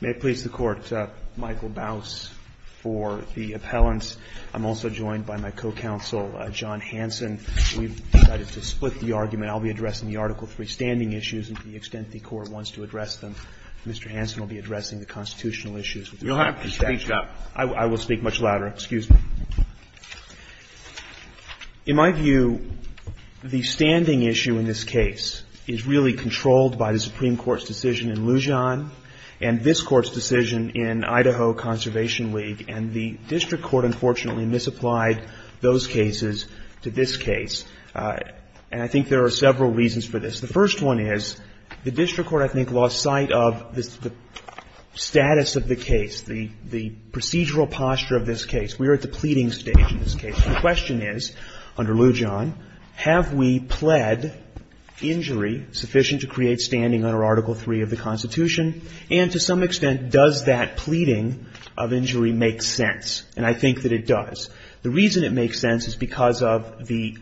May it please the Court, Michael Baus for the appellants. I'm also joined by my co-counsel John Hanson. We've decided to split the argument. I'll be addressing the Article III standing issues and to the extent the Court wants to address them. Mr. Hanson will be addressing the constitutional issues. You'll have to speak up. I will speak much louder. Excuse me. In my view, the standing issue in this case is really controlled by the Supreme Court's decision in Lujan and this Court's decision in Idaho Conservation League, and the district court unfortunately misapplied those cases to this case. And I think there are several reasons for this. The first one is the district court, I think, lost sight of the status of the case, the procedural posture of this case. We are at the pleading stage in this case. The question is, under Lujan, have we pled injury sufficient to create standing under Article III of the Constitution? And to some extent, does that pleading of injury make sense? And I think that it does. The reason it makes sense is because of the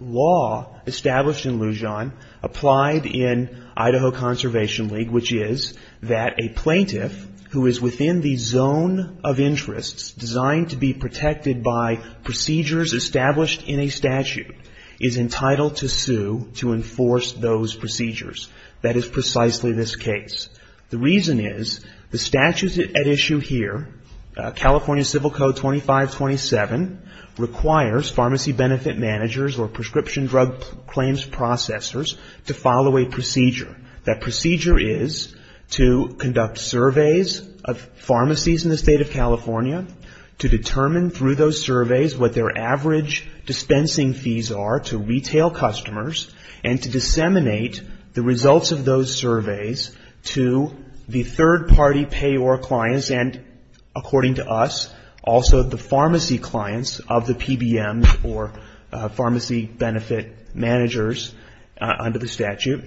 law established in Lujan, applied in Idaho Conservation League, which is that a plaintiff who is within the zone of interests designed to be protected by procedures established in a statute is entitled to sue to enforce those procedures. That is precisely this case. The reason is the statute at issue here, California Civil Code 2527, requires pharmacy benefit managers or prescription drug claims processors to follow a procedure. That procedure is to conduct surveys of pharmacies in the state of California, to determine through those surveys what their average dispensing fees are to retail customers, and to disseminate the results of those surveys to the third-party payor clients and, according to us, also the pharmacy clients of the PBMs or pharmacy benefit managers under the statute.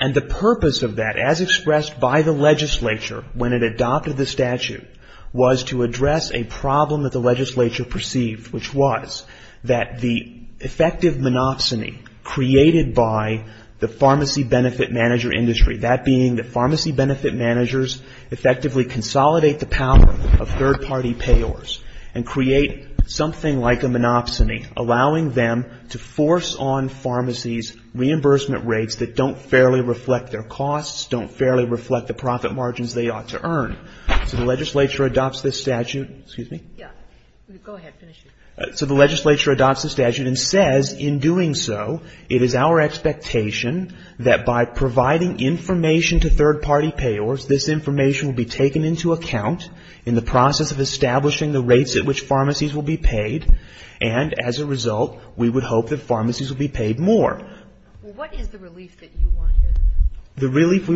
And the purpose of that, as expressed by the legislature when it adopted the statute, was to address a problem that the legislature perceived, which was that the effective monopsony created by the pharmacy benefit manager industry, that being the pharmacy benefit managers effectively consolidate the power of third-party payors and create something like a monopsony, allowing them to force on pharmacies reimbursement rates that don't fairly reflect their costs, don't fairly reflect the profit margins they ought to earn. So the legislature adopts this statute and says, in doing so, it is our expectation that by providing information to third-party payors, this information will be taken into account in the process of establishing the rates at which pharmacies will be paid. And, as a result, we would hope that pharmacies will be paid more. Well, what is the relief that you want here? The relief?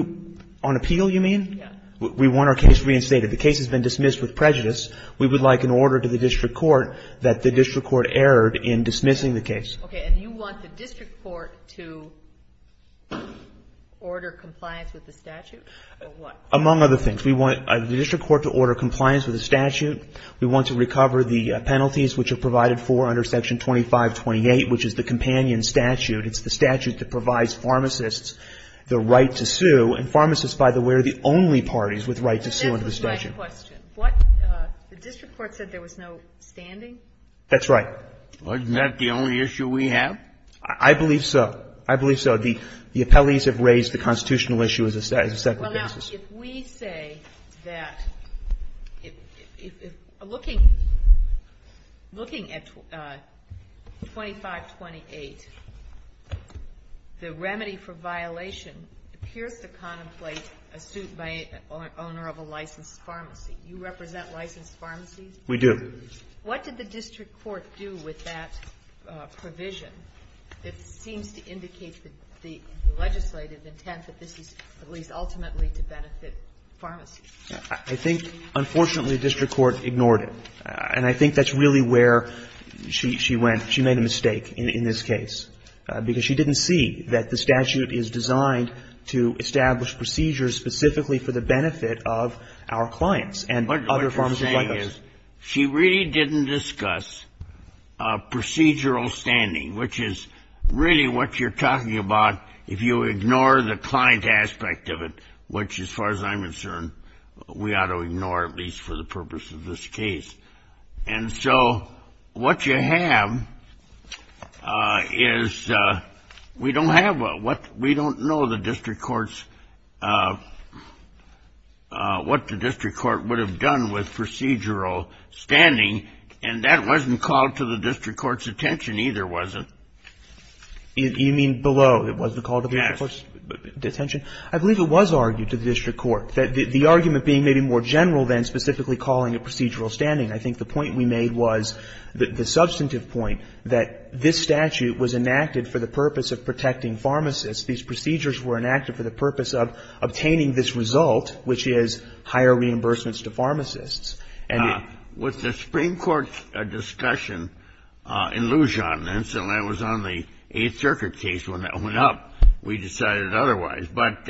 On appeal, you mean? Yes. We want our case reinstated. The case has been dismissed with prejudice. We would like an order to the district court that the district court erred in dismissing the case. Okay. And you want the district court to order compliance with the statute, or what? Among other things. We want the district court to order compliance with the statute. We want to recover the penalties, which are provided for under Section 2528, which is the companion statute. It's the statute that provides pharmacists the right to sue. And pharmacists, by the way, are the only parties with the right to sue under the statute. But that's the right question. What? The district court said there was no standing? That's right. Isn't that the only issue we have? I believe so. I believe so. The appellees have raised the constitutional issue as a separate issue. Well, now, if we say that looking at 2528, the remedy for violation appears to contemplate a suit by an owner of a licensed pharmacy. You represent licensed pharmacies? We do. What did the district court do with that provision? It seems to indicate the legislative intent that this is at least ultimately to benefit pharmacies. I think, unfortunately, the district court ignored it. And I think that's really where she went. She made a mistake in this case. Because she didn't see that the statute is designed to establish procedures specifically for the benefit of our clients and other pharmacies like us. She really didn't discuss procedural standing, which is really what you're talking about if you ignore the client aspect of it. Which, as far as I'm concerned, we ought to ignore, at least for the purpose of this case. And so what you have is we don't have what we don't know the district court's what the district court would have done with procedural standing. And that wasn't called to the district court's attention either, was it? You mean below? It wasn't called to the district court's attention? Yes. I believe it was argued to the district court, the argument being maybe more general than specifically calling it procedural standing. I think the point we made was the substantive point that this statute was enacted for the purpose of protecting pharmacists. These procedures were enacted for the purpose of obtaining this result, which is higher reimbursements to pharmacists. With the Supreme Court discussion in Lujan, and so that was on the Eighth Circuit case when it went up, we decided otherwise. But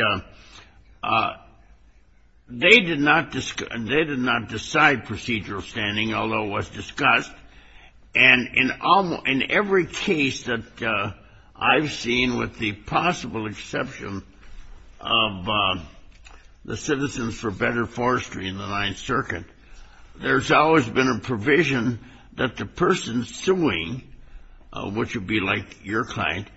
they did not decide procedural standing, although it was discussed. And in every case that I've seen, with the possible exception of the Citizens for Better Forestry in the Ninth Circuit, there's always been a provision that the person suing, which would be like your client,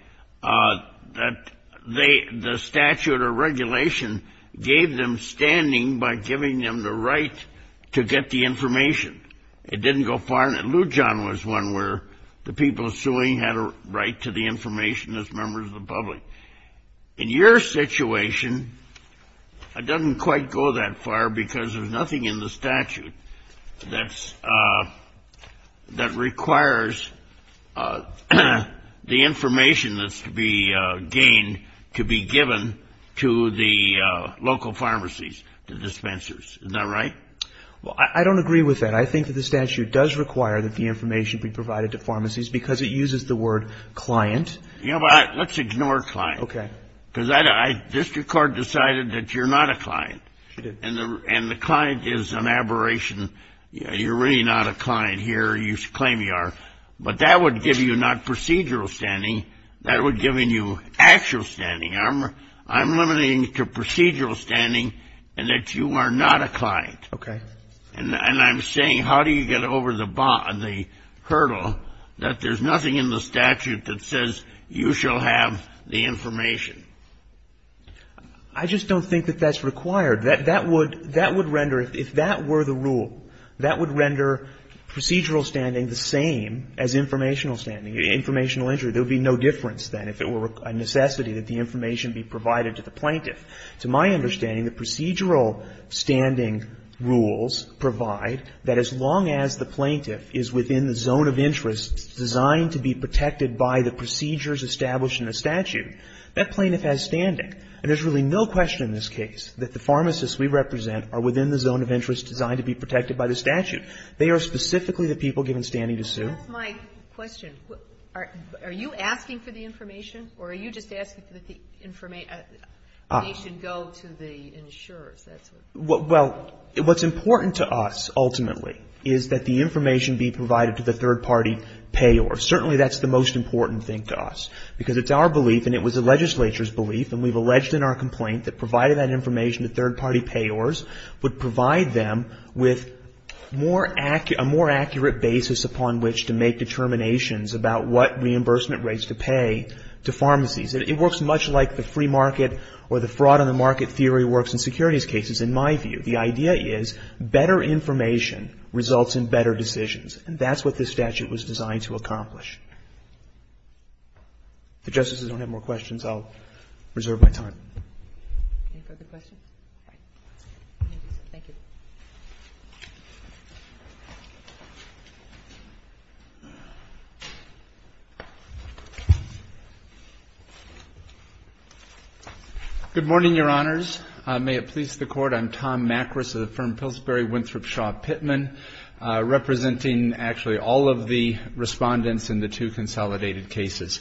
that the statute or regulation gave them standing by giving them the right to get the information. It didn't go far. Lujan was one where the people suing had a right to the information as members of the public. In your situation, it doesn't quite go that far because there's nothing in the statute that requires the information that's to be gained to be given to the local pharmacies, the dispensers. Is that right? Well, I don't agree with that. I think that the statute does require that the information be provided to pharmacies because it uses the word client. You know what? Let's ignore client. Okay. Because district court decided that you're not a client. And the client is an aberration. You're really not a client here. You claim you are. But that would give you not procedural standing. That would give you actual standing. I'm limiting it to procedural standing and that you are not a client. Okay. And I'm saying how do you get over the hurdle that there's nothing in the statute that says you shall have the information? I just don't think that that's required. That would render, if that were the rule, that would render procedural standing the same as informational standing, informational entry. There would be no difference then if it were a necessity that the information be provided to the plaintiff. To my understanding, the procedural standing rules provide that as long as the plaintiff is within the zone of interest designed to be protected by the procedures established in the statute, that plaintiff has standing. And there's really no question in this case that the pharmacists we represent are within the zone of interest designed to be protected by the statute. They are specifically the people given standing to sue. That's my question. Are you asking for the information? Or are you just asking that the information go to the insurers? Well, what's important to us ultimately is that the information be provided to the third party payors. Certainly that's the most important thing to us because it's our belief and it was the legislature's belief and we've alleged in our complaint that providing that information to third party payors would provide them with a more accurate basis upon which to make determinations about what reimbursement rates to pay to pharmacies. It works much like the free market or the fraud on the market theory works in securities cases in my view. The idea is better information results in better decisions. And that's what this statute was designed to accomplish. If the Justices don't have more questions, I'll reserve my time. Any further questions? Thank you. Good morning, Your Honors. May it please the Court. I'm Tom Macris of the firm Pillsbury Winthrop Shaw Pittman, representing actually all of the respondents in the two consolidated cases.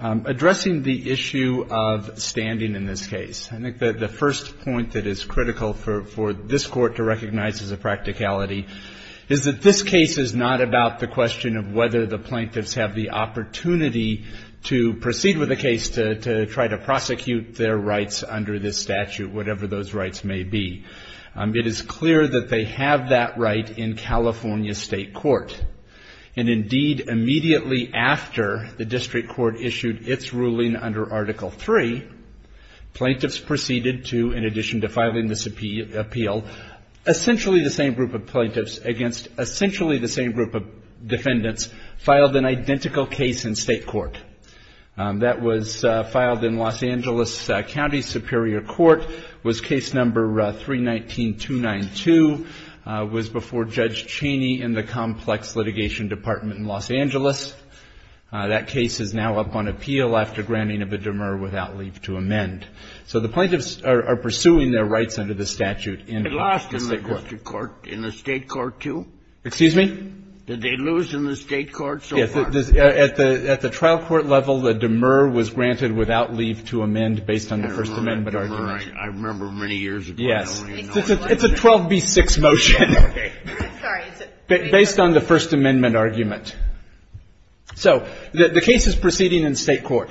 Addressing the issue of standing in this case, I think that the first point that is critical for this Court to recognize as a practicality is that this case is not about the question of whether the plaintiffs have the opportunity to proceed with a case to try to prosecute their rights under this statute, whatever those rights may be. It is clear that they have that right in California State Court. And indeed, immediately after the district court issued its ruling under Article 3, plaintiffs proceeded to, in addition to filing this appeal, essentially the same group of plaintiffs against essentially the same group of defendants filed an identical case in State Court. That was filed in Los Angeles County Superior Court. It was case number 319292. It was before Judge Cheney in the Complex Litigation Department in Los Angeles. That case is now up on appeal after granting of a demur without leave to amend. So the plaintiffs are pursuing their rights under the statute in the State Court. It lost in the district court, in the State Court, too? Excuse me? Did they lose in the State Court so far? At the trial court level, the demur was granted without leave to amend based on the First Amendment argument. I remember many years ago. Yes. It's a 12B6 motion. Okay. Sorry. Based on the First Amendment argument. So the case is proceeding in State Court.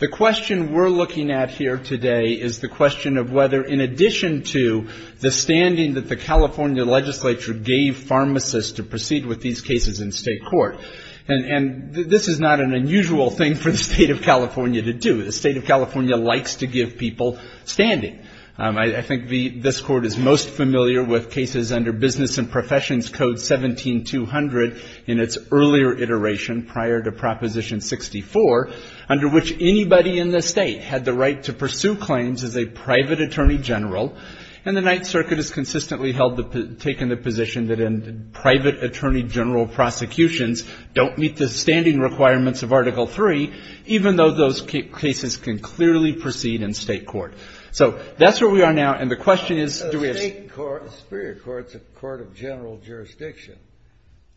The question we're looking at here today is the question of whether, in addition to the standing that the California legislature gave pharmacists to proceed with these cases in State Court, and this is not an unusual thing for the State of California to do. The State of California likes to give people standing. I think this Court is most familiar with cases under Business and Professions Code 17200 in its earlier iteration prior to Proposition 64, under which anybody in the State had the right to pursue claims as a private attorney general, and the Ninth Circuit has consistently taken the position that private attorney general prosecutions don't meet the standing requirements of Article III, even though those cases can clearly proceed in State Court. So that's where we are now, and the question is do we have to do that?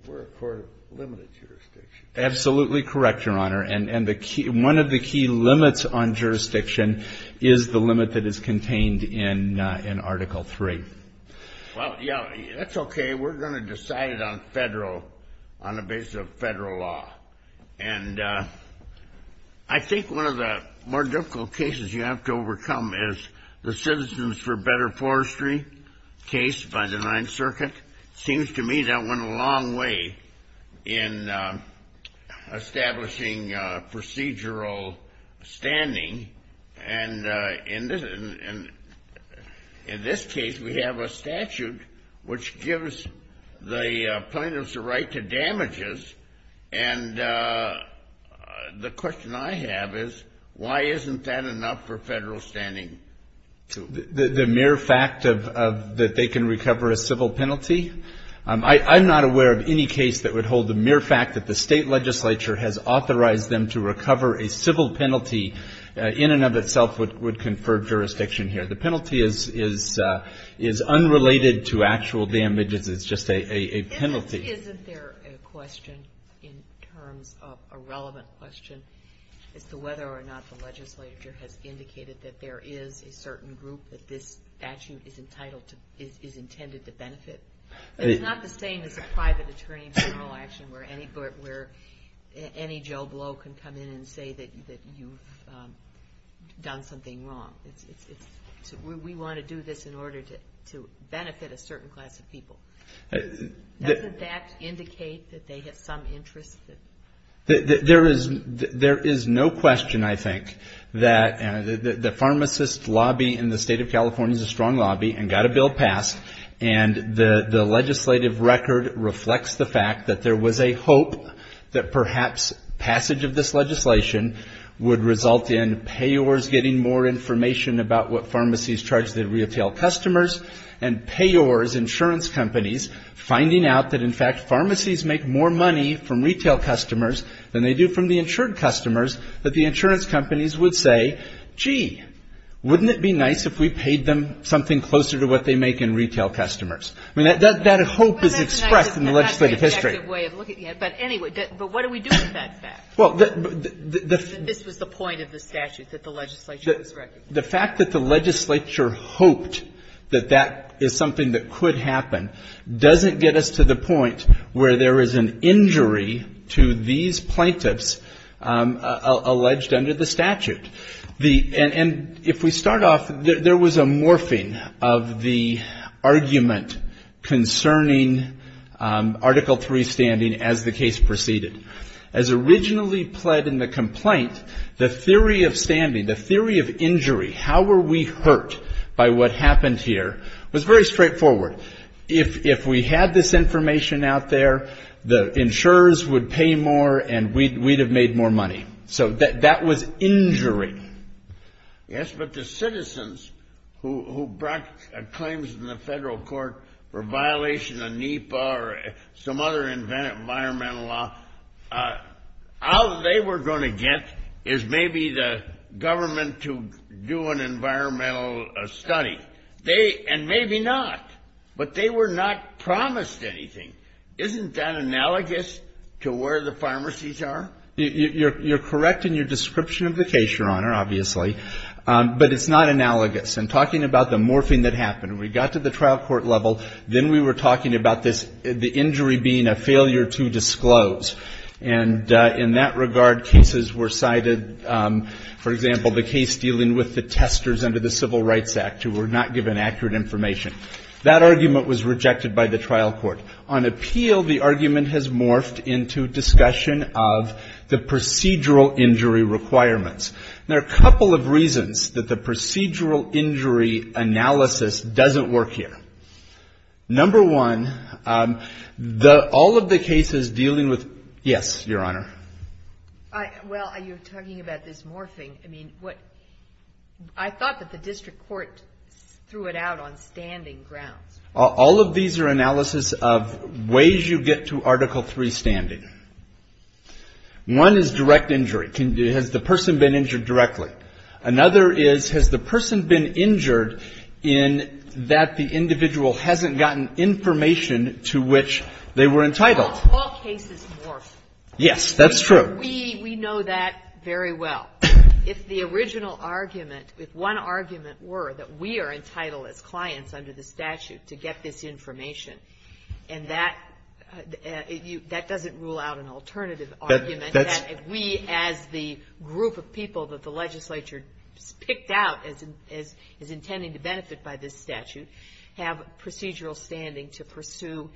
We're a court of limited jurisdiction. Absolutely correct, Your Honor, and one of the key limits on jurisdiction is the limit that is contained in Article III. Well, yeah, that's okay. We're going to decide it on a basis of federal law, and I think one of the more difficult cases you have to overcome is the Citizens for Better Forestry case by the Ninth Circuit. It seems to me that went a long way in establishing procedural standing, and in this case we have a statute which gives the plaintiffs the right to damages, and the question I have is why isn't that enough for federal standing? The mere fact that they can recover a civil penalty? I'm not aware of any case that would hold the mere fact that the State Legislature has authorized them to recover a civil penalty in and of itself would confer jurisdiction here. The penalty is unrelated to actual damages. It's just a penalty. Isn't there a question in terms of a relevant question as to whether or not the legislature has indicated that there is a certain group that this statute is intended to benefit? It's not the same as a private attorney general action where any Joe Blow can come in and say that you've done something wrong. We want to do this in order to benefit a certain class of people. Doesn't that indicate that they have some interest? There is no question, I think, that the pharmacist lobby in the State of California is a strong lobby and got a bill passed, and the legislative record reflects the fact that there was a hope that perhaps passage of this legislation would result in payors getting more information about what pharmacies charge their retail customers and payors, insurance companies, finding out that, in fact, pharmacies make more money from retail customers than they do from the insured customers, that the insurance companies would say, gee, wouldn't it be nice if we paid them something closer to what they make in retail customers? I mean, that hope is expressed in the legislative history. But anyway, but what do we do with that fact? This was the point of the statute that the legislature was recommending. The fact that the legislature hoped that that is something that could happen doesn't get us to the point where there is an injury to these plaintiffs alleged under the statute. And if we start off, there was a morphing of the argument concerning Article 3 standing as the case proceeded. As originally pled in the complaint, the theory of standing, the theory of injury, how were we hurt by what happened here, was very straightforward. If we had this information out there, the insurers would pay more and we'd have made more money. So that was injury. Yes, but the citizens who brought claims in the federal court for violation of NEPA or some other environmental law, all they were going to get is maybe the government to do an environmental study. They, and maybe not, but they were not promised anything. Isn't that analogous to where the pharmacies are? You're correct in your description of the case, Your Honor, obviously, but it's not analogous. In talking about the morphing that happened, we got to the trial court level, then we were talking about this, the injury being a failure to disclose, and in that regard, cases were cited. For example, the case dealing with the testers under the Civil Rights Act who were not given accurate information. That argument was rejected by the trial court. On appeal, the argument has morphed into discussion of the procedural injury requirements. There are a couple of reasons that the procedural injury analysis doesn't work here. Number one, all of the cases dealing with, yes, Your Honor? Well, you're talking about this morphing. I thought that the district court threw it out on standing grounds. All of these are analysis of ways you get to Article III standing. One is direct injury. Has the person been injured directly? Another is has the person been injured in that the individual hasn't gotten information to which they were entitled? All cases morph. Yes, that's true. We know that very well. If the original argument, if one argument were that we are entitled as clients under the statute to get this information, and that doesn't rule out an alternative argument, that we as the group of people that the legislature picked out as intending to benefit by this statute have procedural standing to pursue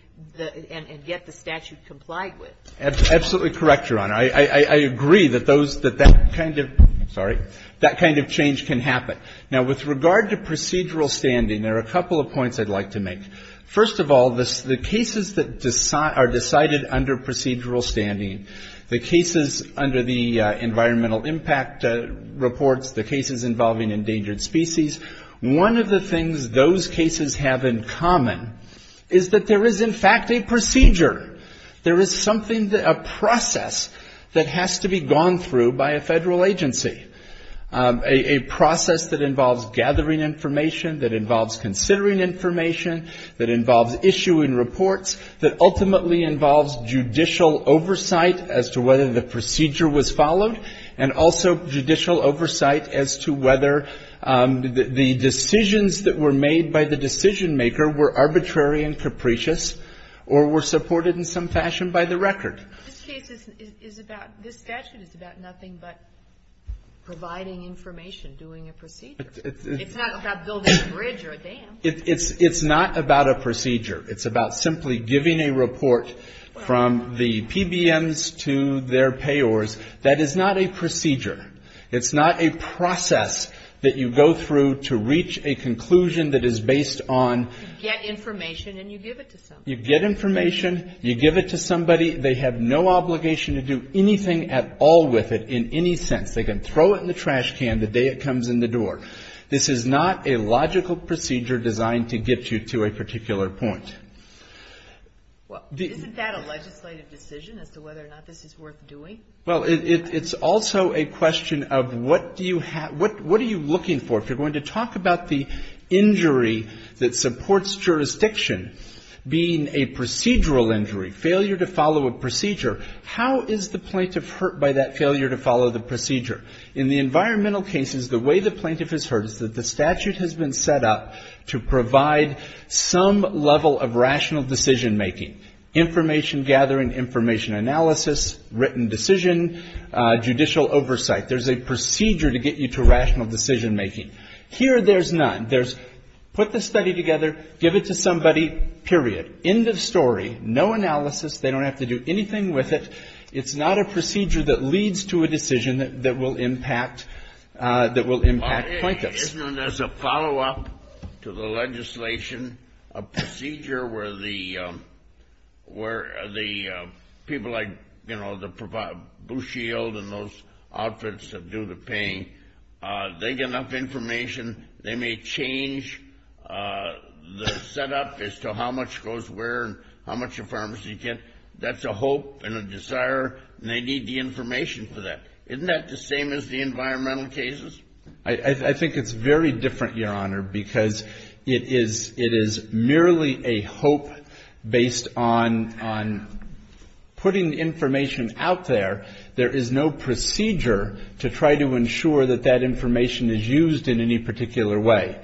and get the statute complied with. Absolutely correct, Your Honor. I agree that that kind of change can happen. Now, with regard to procedural standing, there are a couple of points I'd like to make. First of all, the cases that are decided under procedural standing, the cases under the environmental impact reports, the cases involving endangered species, one of the things those cases have in common is that there is, in fact, a procedure. There is something, a process that has to be gone through by a federal agency, a process that involves gathering information, that involves considering information, that involves issuing reports, that ultimately involves judicial oversight as to whether the procedure was followed, and also judicial oversight as to whether the decisions that were made by the decision-maker were arbitrary and capricious or were supported in some fashion by the record. This case is about, this statute is about nothing but providing information, doing a procedure. It's not about building a bridge or a dam. It's not about a procedure. It's about simply giving a report from the PBMs to their payors. That is not a procedure. It's not a process that you go through to reach a conclusion that is based on... You get information and you give it to somebody. They have no obligation to do anything at all with it in any sense. They can throw it in the trash can the day it comes in the door. This is not a logical procedure designed to get you to a particular point. The... Well, isn't that a legislative decision as to whether or not this is worth doing? Well, it's also a question of what do you have, what are you looking for? If you're going to talk about the injury that supports jurisdiction being a procedural injury, failure to follow a procedure, how is the plaintiff hurt by that failure to follow the procedure? In the environmental cases, the way the plaintiff is hurt is that the statute has been set up to provide some level of rational decision-making, information gathering, information analysis, written decision, judicial oversight. There's a procedure to get you to rational decision-making. Here, there's none. There's put the study together, give it to somebody, period. End of story. No analysis. They don't have to do anything with it. It's not a procedure that leads to a decision that will impact plaintiffs. Isn't there a follow-up to the legislation, a procedure where the people like, you know, Blue Shield and those outfits that do the paying, they get enough information, they may change the setup as to how much goes where and how much a pharmacy gets? That's a hope and a desire, and they need the information for that. Isn't that the same as the environmental cases? I think it's very different, Your Honor, because it is merely a hope based on putting information out there. There is no procedure to try to ensure that that information is used in any particular way.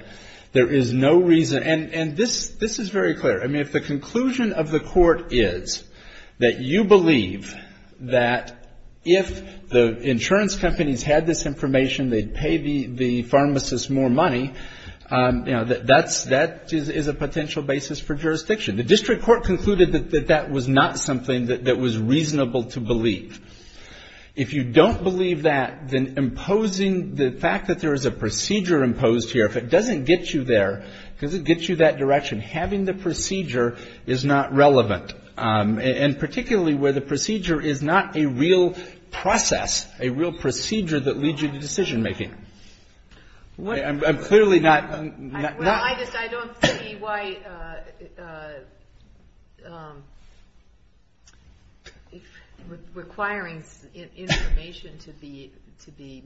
There is no reason, and this is very clear. I mean, if the conclusion of the court is that you believe that if the insurance companies had this information, they'd pay the pharmacist more money, you know, that that is a potential basis for jurisdiction. The district court concluded that that was not something that was reasonable to believe. If you don't believe that, then imposing the fact that there is a procedure imposed here, if it doesn't get you there, it doesn't get you that direction. Having the procedure is not relevant. And particularly where the procedure is not a real process, a real procedure that leads you to decision making. I'm clearly not... I don't see why requiring information to be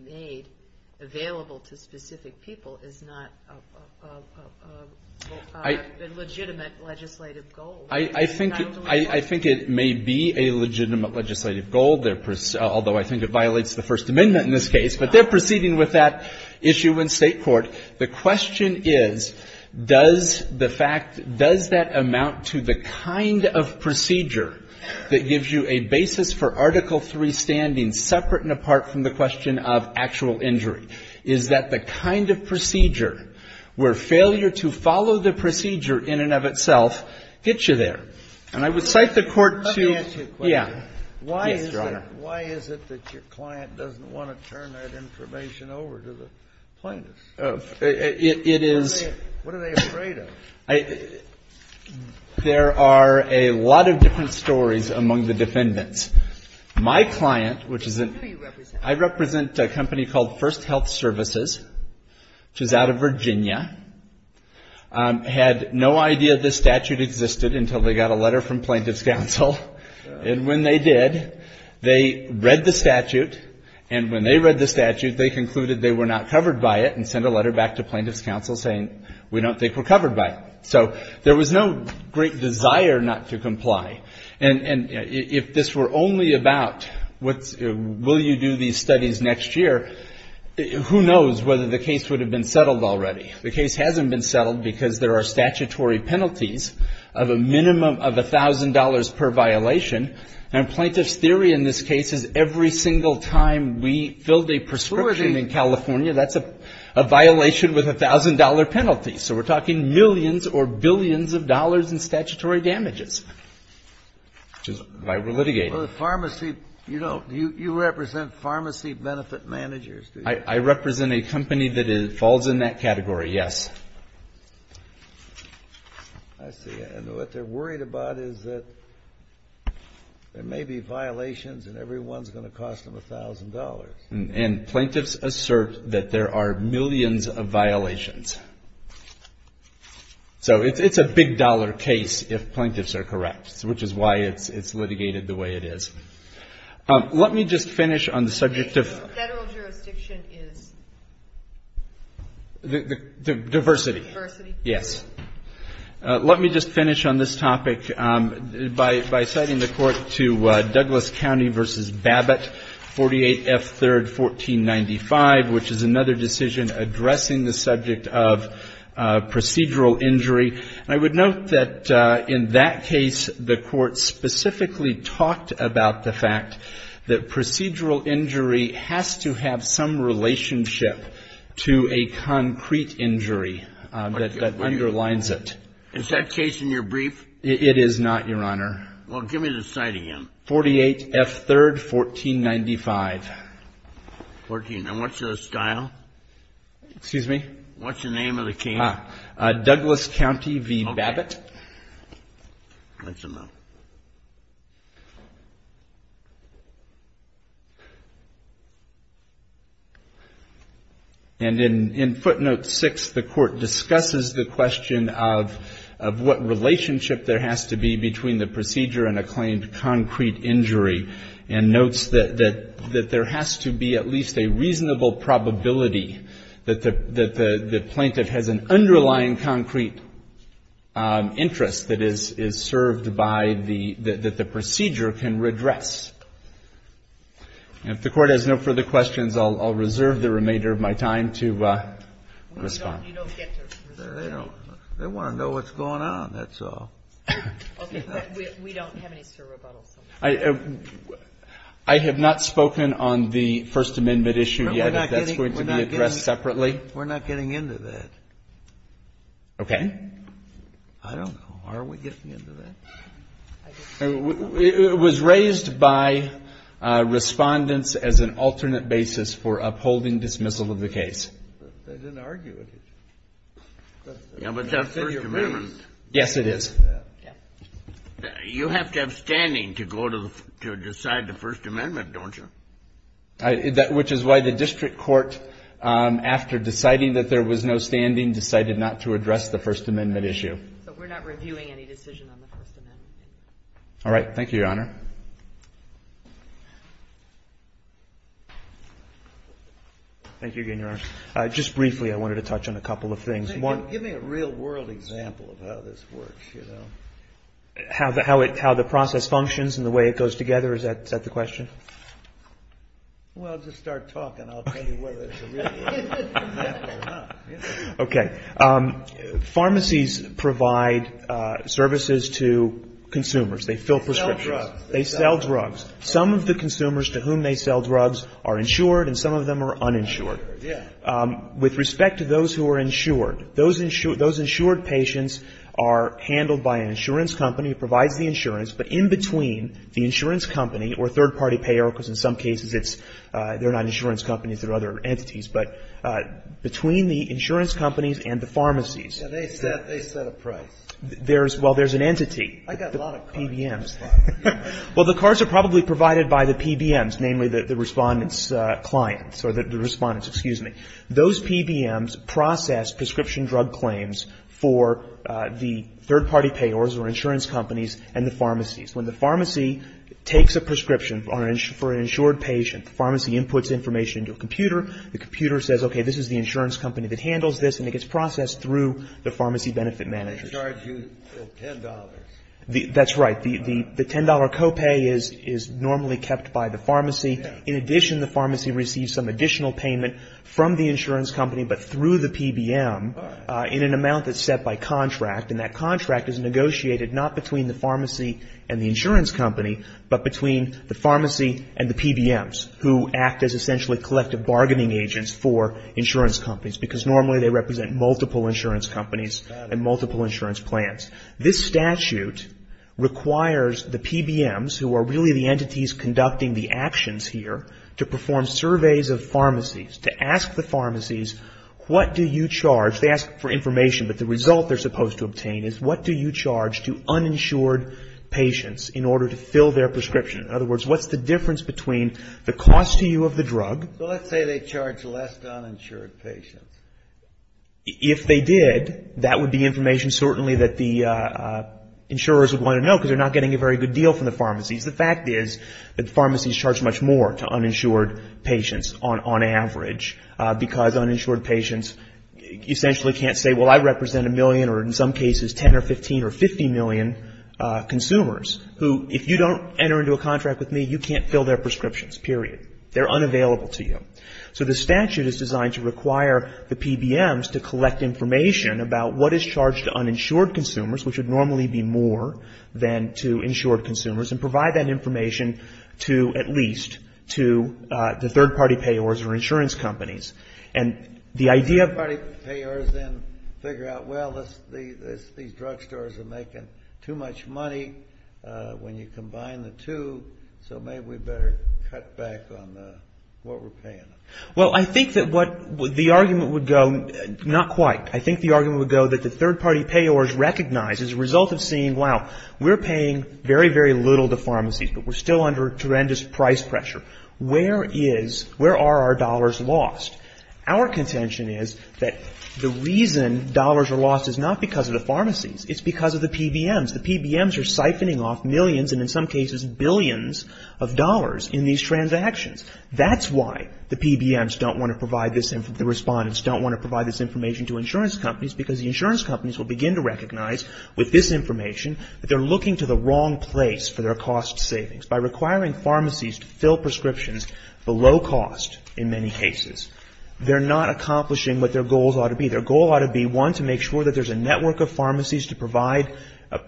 made available to specific people is not a legitimate legislative goal. I think it may be a legitimate legislative goal, although I think it violates the First Amendment in this case. But they're proceeding with that issue in State court. The question is, does the fact, does that amount to the kind of procedure that gives you a basis for Article III standing separate and apart from the question of actual injury? Is that the kind of procedure where failure to follow the procedure in and of itself gets you there? And I would cite the court to... Let me ask you a question. Yes, Your Honor. Why is it that your client doesn't want to turn that information over to the plaintiffs? It is... What are they afraid of? There are a lot of different stories among the defendants. My client, which is... I represent a company called First Health Services, which is out of Virginia, had no idea this statute existed until they got a letter from plaintiff's counsel. And when they did, they read the statute, and when they read the statute, they concluded they were not covered by it and sent a letter back to plaintiff's counsel saying, we don't think we're covered by it. So there was no great desire not to comply. And if this were only about will you do these studies next year, who knows whether the case would have been settled already. The case hasn't been settled because there are statutory penalties of a minimum of $1,000 per violation. And plaintiff's theory in this case is every single time we filled a prescription in California, that's a violation with a $1,000 penalty. So we're talking millions or billions of dollars in statutory damages, which is why we're litigating. Well, the pharmacy, you know, you represent pharmacy benefit managers, do you? I represent a company that falls in that category, yes. I see. And what they're worried about is that there may be violations and every one is going to cost them $1,000. And plaintiffs assert that there are millions of violations. So it's a big-dollar case if plaintiffs are correct, which is why it's litigated the way it is. Let me just finish on the subject of. Federal jurisdiction is. Diversity. Diversity. Yes. Let me just finish on this topic by citing the court to Douglas County v. Babbitt, 48 F. 3rd, 1495, which is another decision addressing the subject of procedural injury. And I would note that in that case, the court specifically talked about the fact that procedural injury has to have some relationship to a concrete injury that underlines it. Is that case in your brief? It is not, Your Honor. Well, give me the site again. 48 F. 3rd, 1495. And what's the style? Excuse me? What's the name of the county? Ah, Douglas County v. Babbitt. And in footnote 6, the court discusses the question of what relationship there has to be between the procedure and a claimed concrete injury and notes that there has to be at least a reasonable probability that the plaintiff has an underlying concrete interest that is served by the, that the procedure can redress. And if the court has no further questions, I'll reserve the remainder of my time to respond. They want to know what's going on, that's all. We don't have any, sir, rebuttals. I have not spoken on the First Amendment issue yet, if that's going to be addressed separately. We're not getting into that. Okay. I don't know, are we getting into that? It was raised by respondents as an alternate basis for upholding dismissal of the case. They didn't argue with it. But that's First Amendment. Yes, it is. You have to have standing to go to decide the First Amendment, don't you? Which is why the district court, after deciding that there was no standing, decided not to address the First Amendment issue. So we're not reviewing any decision on the First Amendment. All right. Thank you, Your Honor. Thank you again, Your Honor. Just briefly, I wanted to touch on a couple of things. How the process functions and the way it goes together, is that the question? Well, just start talking. I'll tell you whether it's a real question or not. Okay. Pharmacies provide services to consumers. They fill prescriptions. They sell drugs. They sell drugs. Some of the consumers to whom they sell drugs are insured and some of them are uninsured. Yeah. With respect to those who are insured, those insured patients are handled by an insurance company. It provides the insurance. But in between the insurance company or third-party payer, because in some cases it's, they're not insurance companies. They're other entities. But between the insurance companies and the pharmacies. Yeah, they set a price. There's, well, there's an entity. I got a lot of cars. PBMs. Well, the cars are probably provided by the PBMs, namely the Respondent's clients or the Respondent's, excuse me. Those PBMs process prescription drug claims for the third-party payers or insurance companies and the pharmacies. When the pharmacy takes a prescription for an insured patient, the pharmacy inputs information into a computer. The computer says, okay, this is the insurance company that handles this. And it gets processed through the pharmacy benefit manager. They charge you $10. That's right. The $10 copay is normally kept by the pharmacy. In addition, the pharmacy receives some additional payment from the insurance company but through the PBM in an amount that's set by contract. And that contract is negotiated not between the pharmacy and the insurance company, but between the pharmacy and the PBMs, who act as essentially collective bargaining agents for insurance companies, because normally they represent multiple insurance companies and multiple insurance plans. This statute requires the PBMs, who are really the entities conducting the actions here, to perform surveys of pharmacies, to ask the pharmacies, what do you charge? They ask for information, but the result they're supposed to obtain is, what do you charge to uninsured patients in order to fill their prescription? In other words, what's the difference between the cost to you of the drug? Well, let's say they charge less to uninsured patients. If they did, that would be information certainly that the insurers would want to know, because they're not getting a very good deal from the pharmacies. The fact is that pharmacies charge much more to uninsured patients on average, because uninsured patients essentially can't say, well, I represent a million or in some cases 10 or 15 or 50 million consumers, who if you don't enter into a contract with me, you can't fill their prescriptions, period. They're unavailable to you. So the statute is designed to require the PBMs to collect information about what is charged to uninsured consumers, which would normally be more than to insured consumers, and provide that information to at least to the third-party payors or insurance companies. And the idea of the third-party payors then figure out, well, these drugstores are making too much money when you combine the two, so maybe we better cut back on what we're paying them. Well, I think that what the argument would go, not quite. I think the argument would go that the third-party payors recognize as a result of seeing, wow, we're paying very, very little to pharmacies, but we're still under tremendous price pressure. Where is, where are our dollars lost? Our contention is that the reason dollars are lost is not because of the pharmacies. It's because of the PBMs. The PBMs are siphoning off millions and in some cases billions of dollars in these transactions. That's why the PBMs don't want to provide this, the respondents don't want to provide this information to insurance companies, because the insurance companies will begin to recognize with this information that they're looking to the wrong place for their cost savings. By requiring pharmacies to fill prescriptions below cost in many cases, they're not accomplishing what their goals ought to be. Their goal ought to be, one, to make sure that there's a network of pharmacies to provide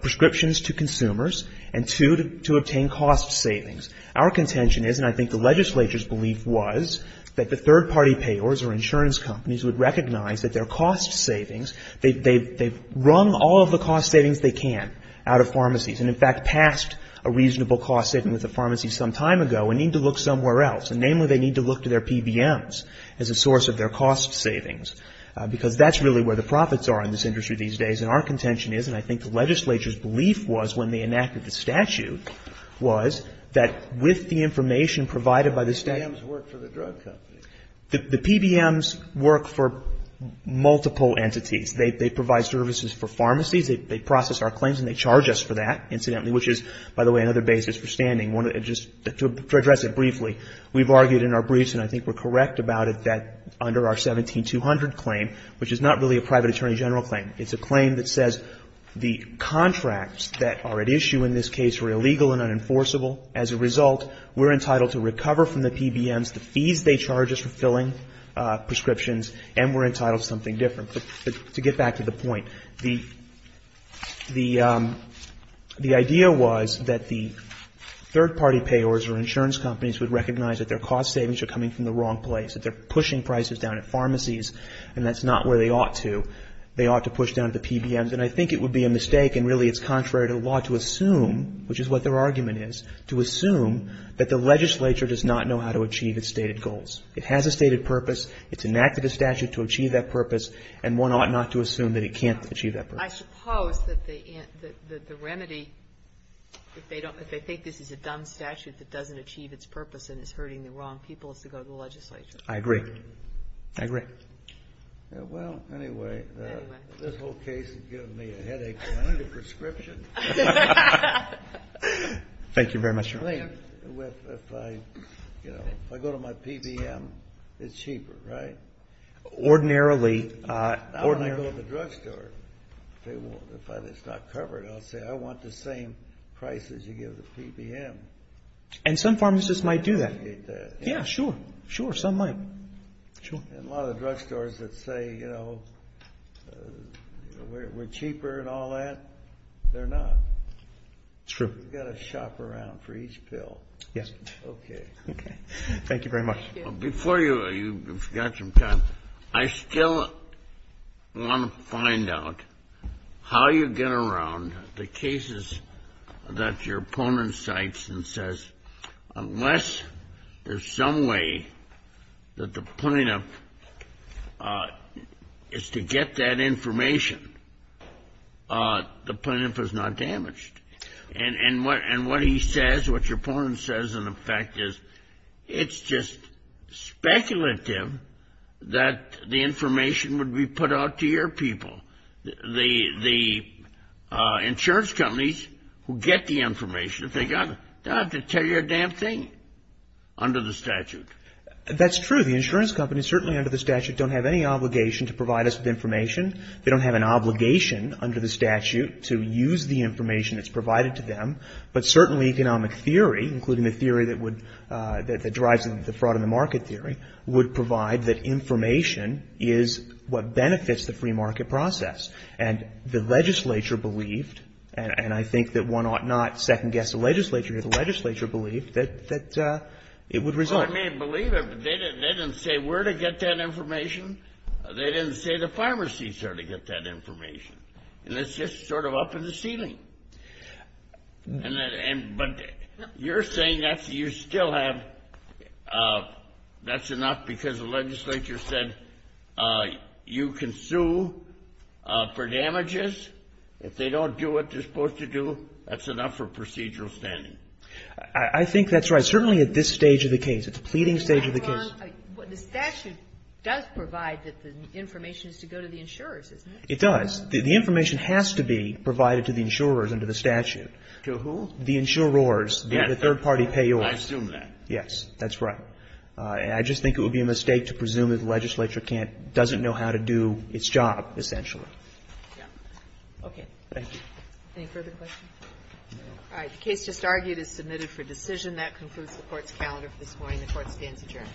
prescriptions to consumers, and, two, to obtain cost savings. Our contention is, and I think the legislature's belief was, that the third-party payors or insurance companies would recognize that their cost savings, they've rung all of the cost savings they can out of pharmacies and, in fact, passed a reasonable cost saving with a pharmacy some time ago and need to look somewhere else. Namely, they need to look to their PBMs as a source of their cost savings, because that's really where the profits are in this industry these days. And our contention is, and I think the legislature's belief was when they enacted the statute, was that with the information provided by the state. The PBMs work for the drug companies. The PBMs work for multiple entities. They provide services for pharmacies. They process our claims and they charge us for that, incidentally, which is, by the way, another basis for standing. Just to address it briefly, we've argued in our briefs, and I think we're correct about it, that under our 17200 claim, which is not really a private attorney general claim. It's a claim that says the contracts that are at issue in this case are illegal and unenforceable. As a result, we're entitled to recover from the PBMs the fees they charge us for filling prescriptions and we're entitled to something different. To get back to the point, the idea was that the third-party payors or insurance companies would recognize that their cost savings are coming from the wrong place, that they're pushing prices down at pharmacies and that's not where they ought to. They ought to push down at the PBMs. And I think it would be a mistake, and really it's contrary to the law, to assume, which is what their argument is, to assume that the legislature does not know how to achieve its stated goals. It has a stated purpose. It's enacted a statute to achieve that purpose, and one ought not to assume that it can't achieve that purpose. I suppose that the remedy, if they think this is a dumb statute that doesn't achieve its purpose and is hurting the wrong people, is to go to the legislature. I agree. I agree. Well, anyway, this whole case has given me a headache. Can I need a prescription? Thank you very much, Your Honor. If I go to my PBM, it's cheaper, right? Ordinarily. Now when I go to the drugstore, if it's not covered, I'll say, I want the same price as you give the PBM. And some pharmacists might do that. Yeah, sure. Sure, some might. Sure. And a lot of the drugstores that say, you know, we're cheaper and all that, they're not. It's true. You've got to shop around for each pill. Yes. Okay. Okay. Thank you very much. Before you've got some time, I still want to find out how you get around the cases that your opponent cites and says, unless there's some way that the plaintiff is to get that information, the plaintiff is not damaged. And what he says, what your opponent says, in effect, is it's just speculative that the information would be put out to your people. The insurance companies who get the information, if they got it, they don't have to tell you a damn thing under the statute. That's true. The insurance companies certainly under the statute don't have any obligation to provide us with information. They don't have an obligation under the statute to use the information that's provided to them. But certainly economic theory, including the theory that would, that drives the fraud in the market theory, would provide that information is what benefits the free market process. And the legislature believed, and I think that one ought not second guess the legislature here, the legislature believed that it would result. Well, I mean, believe it. They didn't say where to get that information. They didn't say the pharmacies are to get that information. And it's just sort of up in the ceiling. But you're saying that you still have, that's enough because the legislature said you can sue for damages. If they don't do what they're supposed to do, that's enough for procedural standing. I think that's right. Certainly at this stage of the case, at the pleading stage of the case. The statute does provide that the information is to go to the insurers, isn't it? It does. The information has to be provided to the insurers under the statute. To who? The insurers, the third party payors. I assume that. Yes, that's right. I just think it would be a mistake to presume that the legislature can't, doesn't know how to do its job, essentially. Okay. Thank you. Any further questions? All right. The case just argued is submitted for decision. That concludes the Court's calendar for this morning. The Court stands adjourned.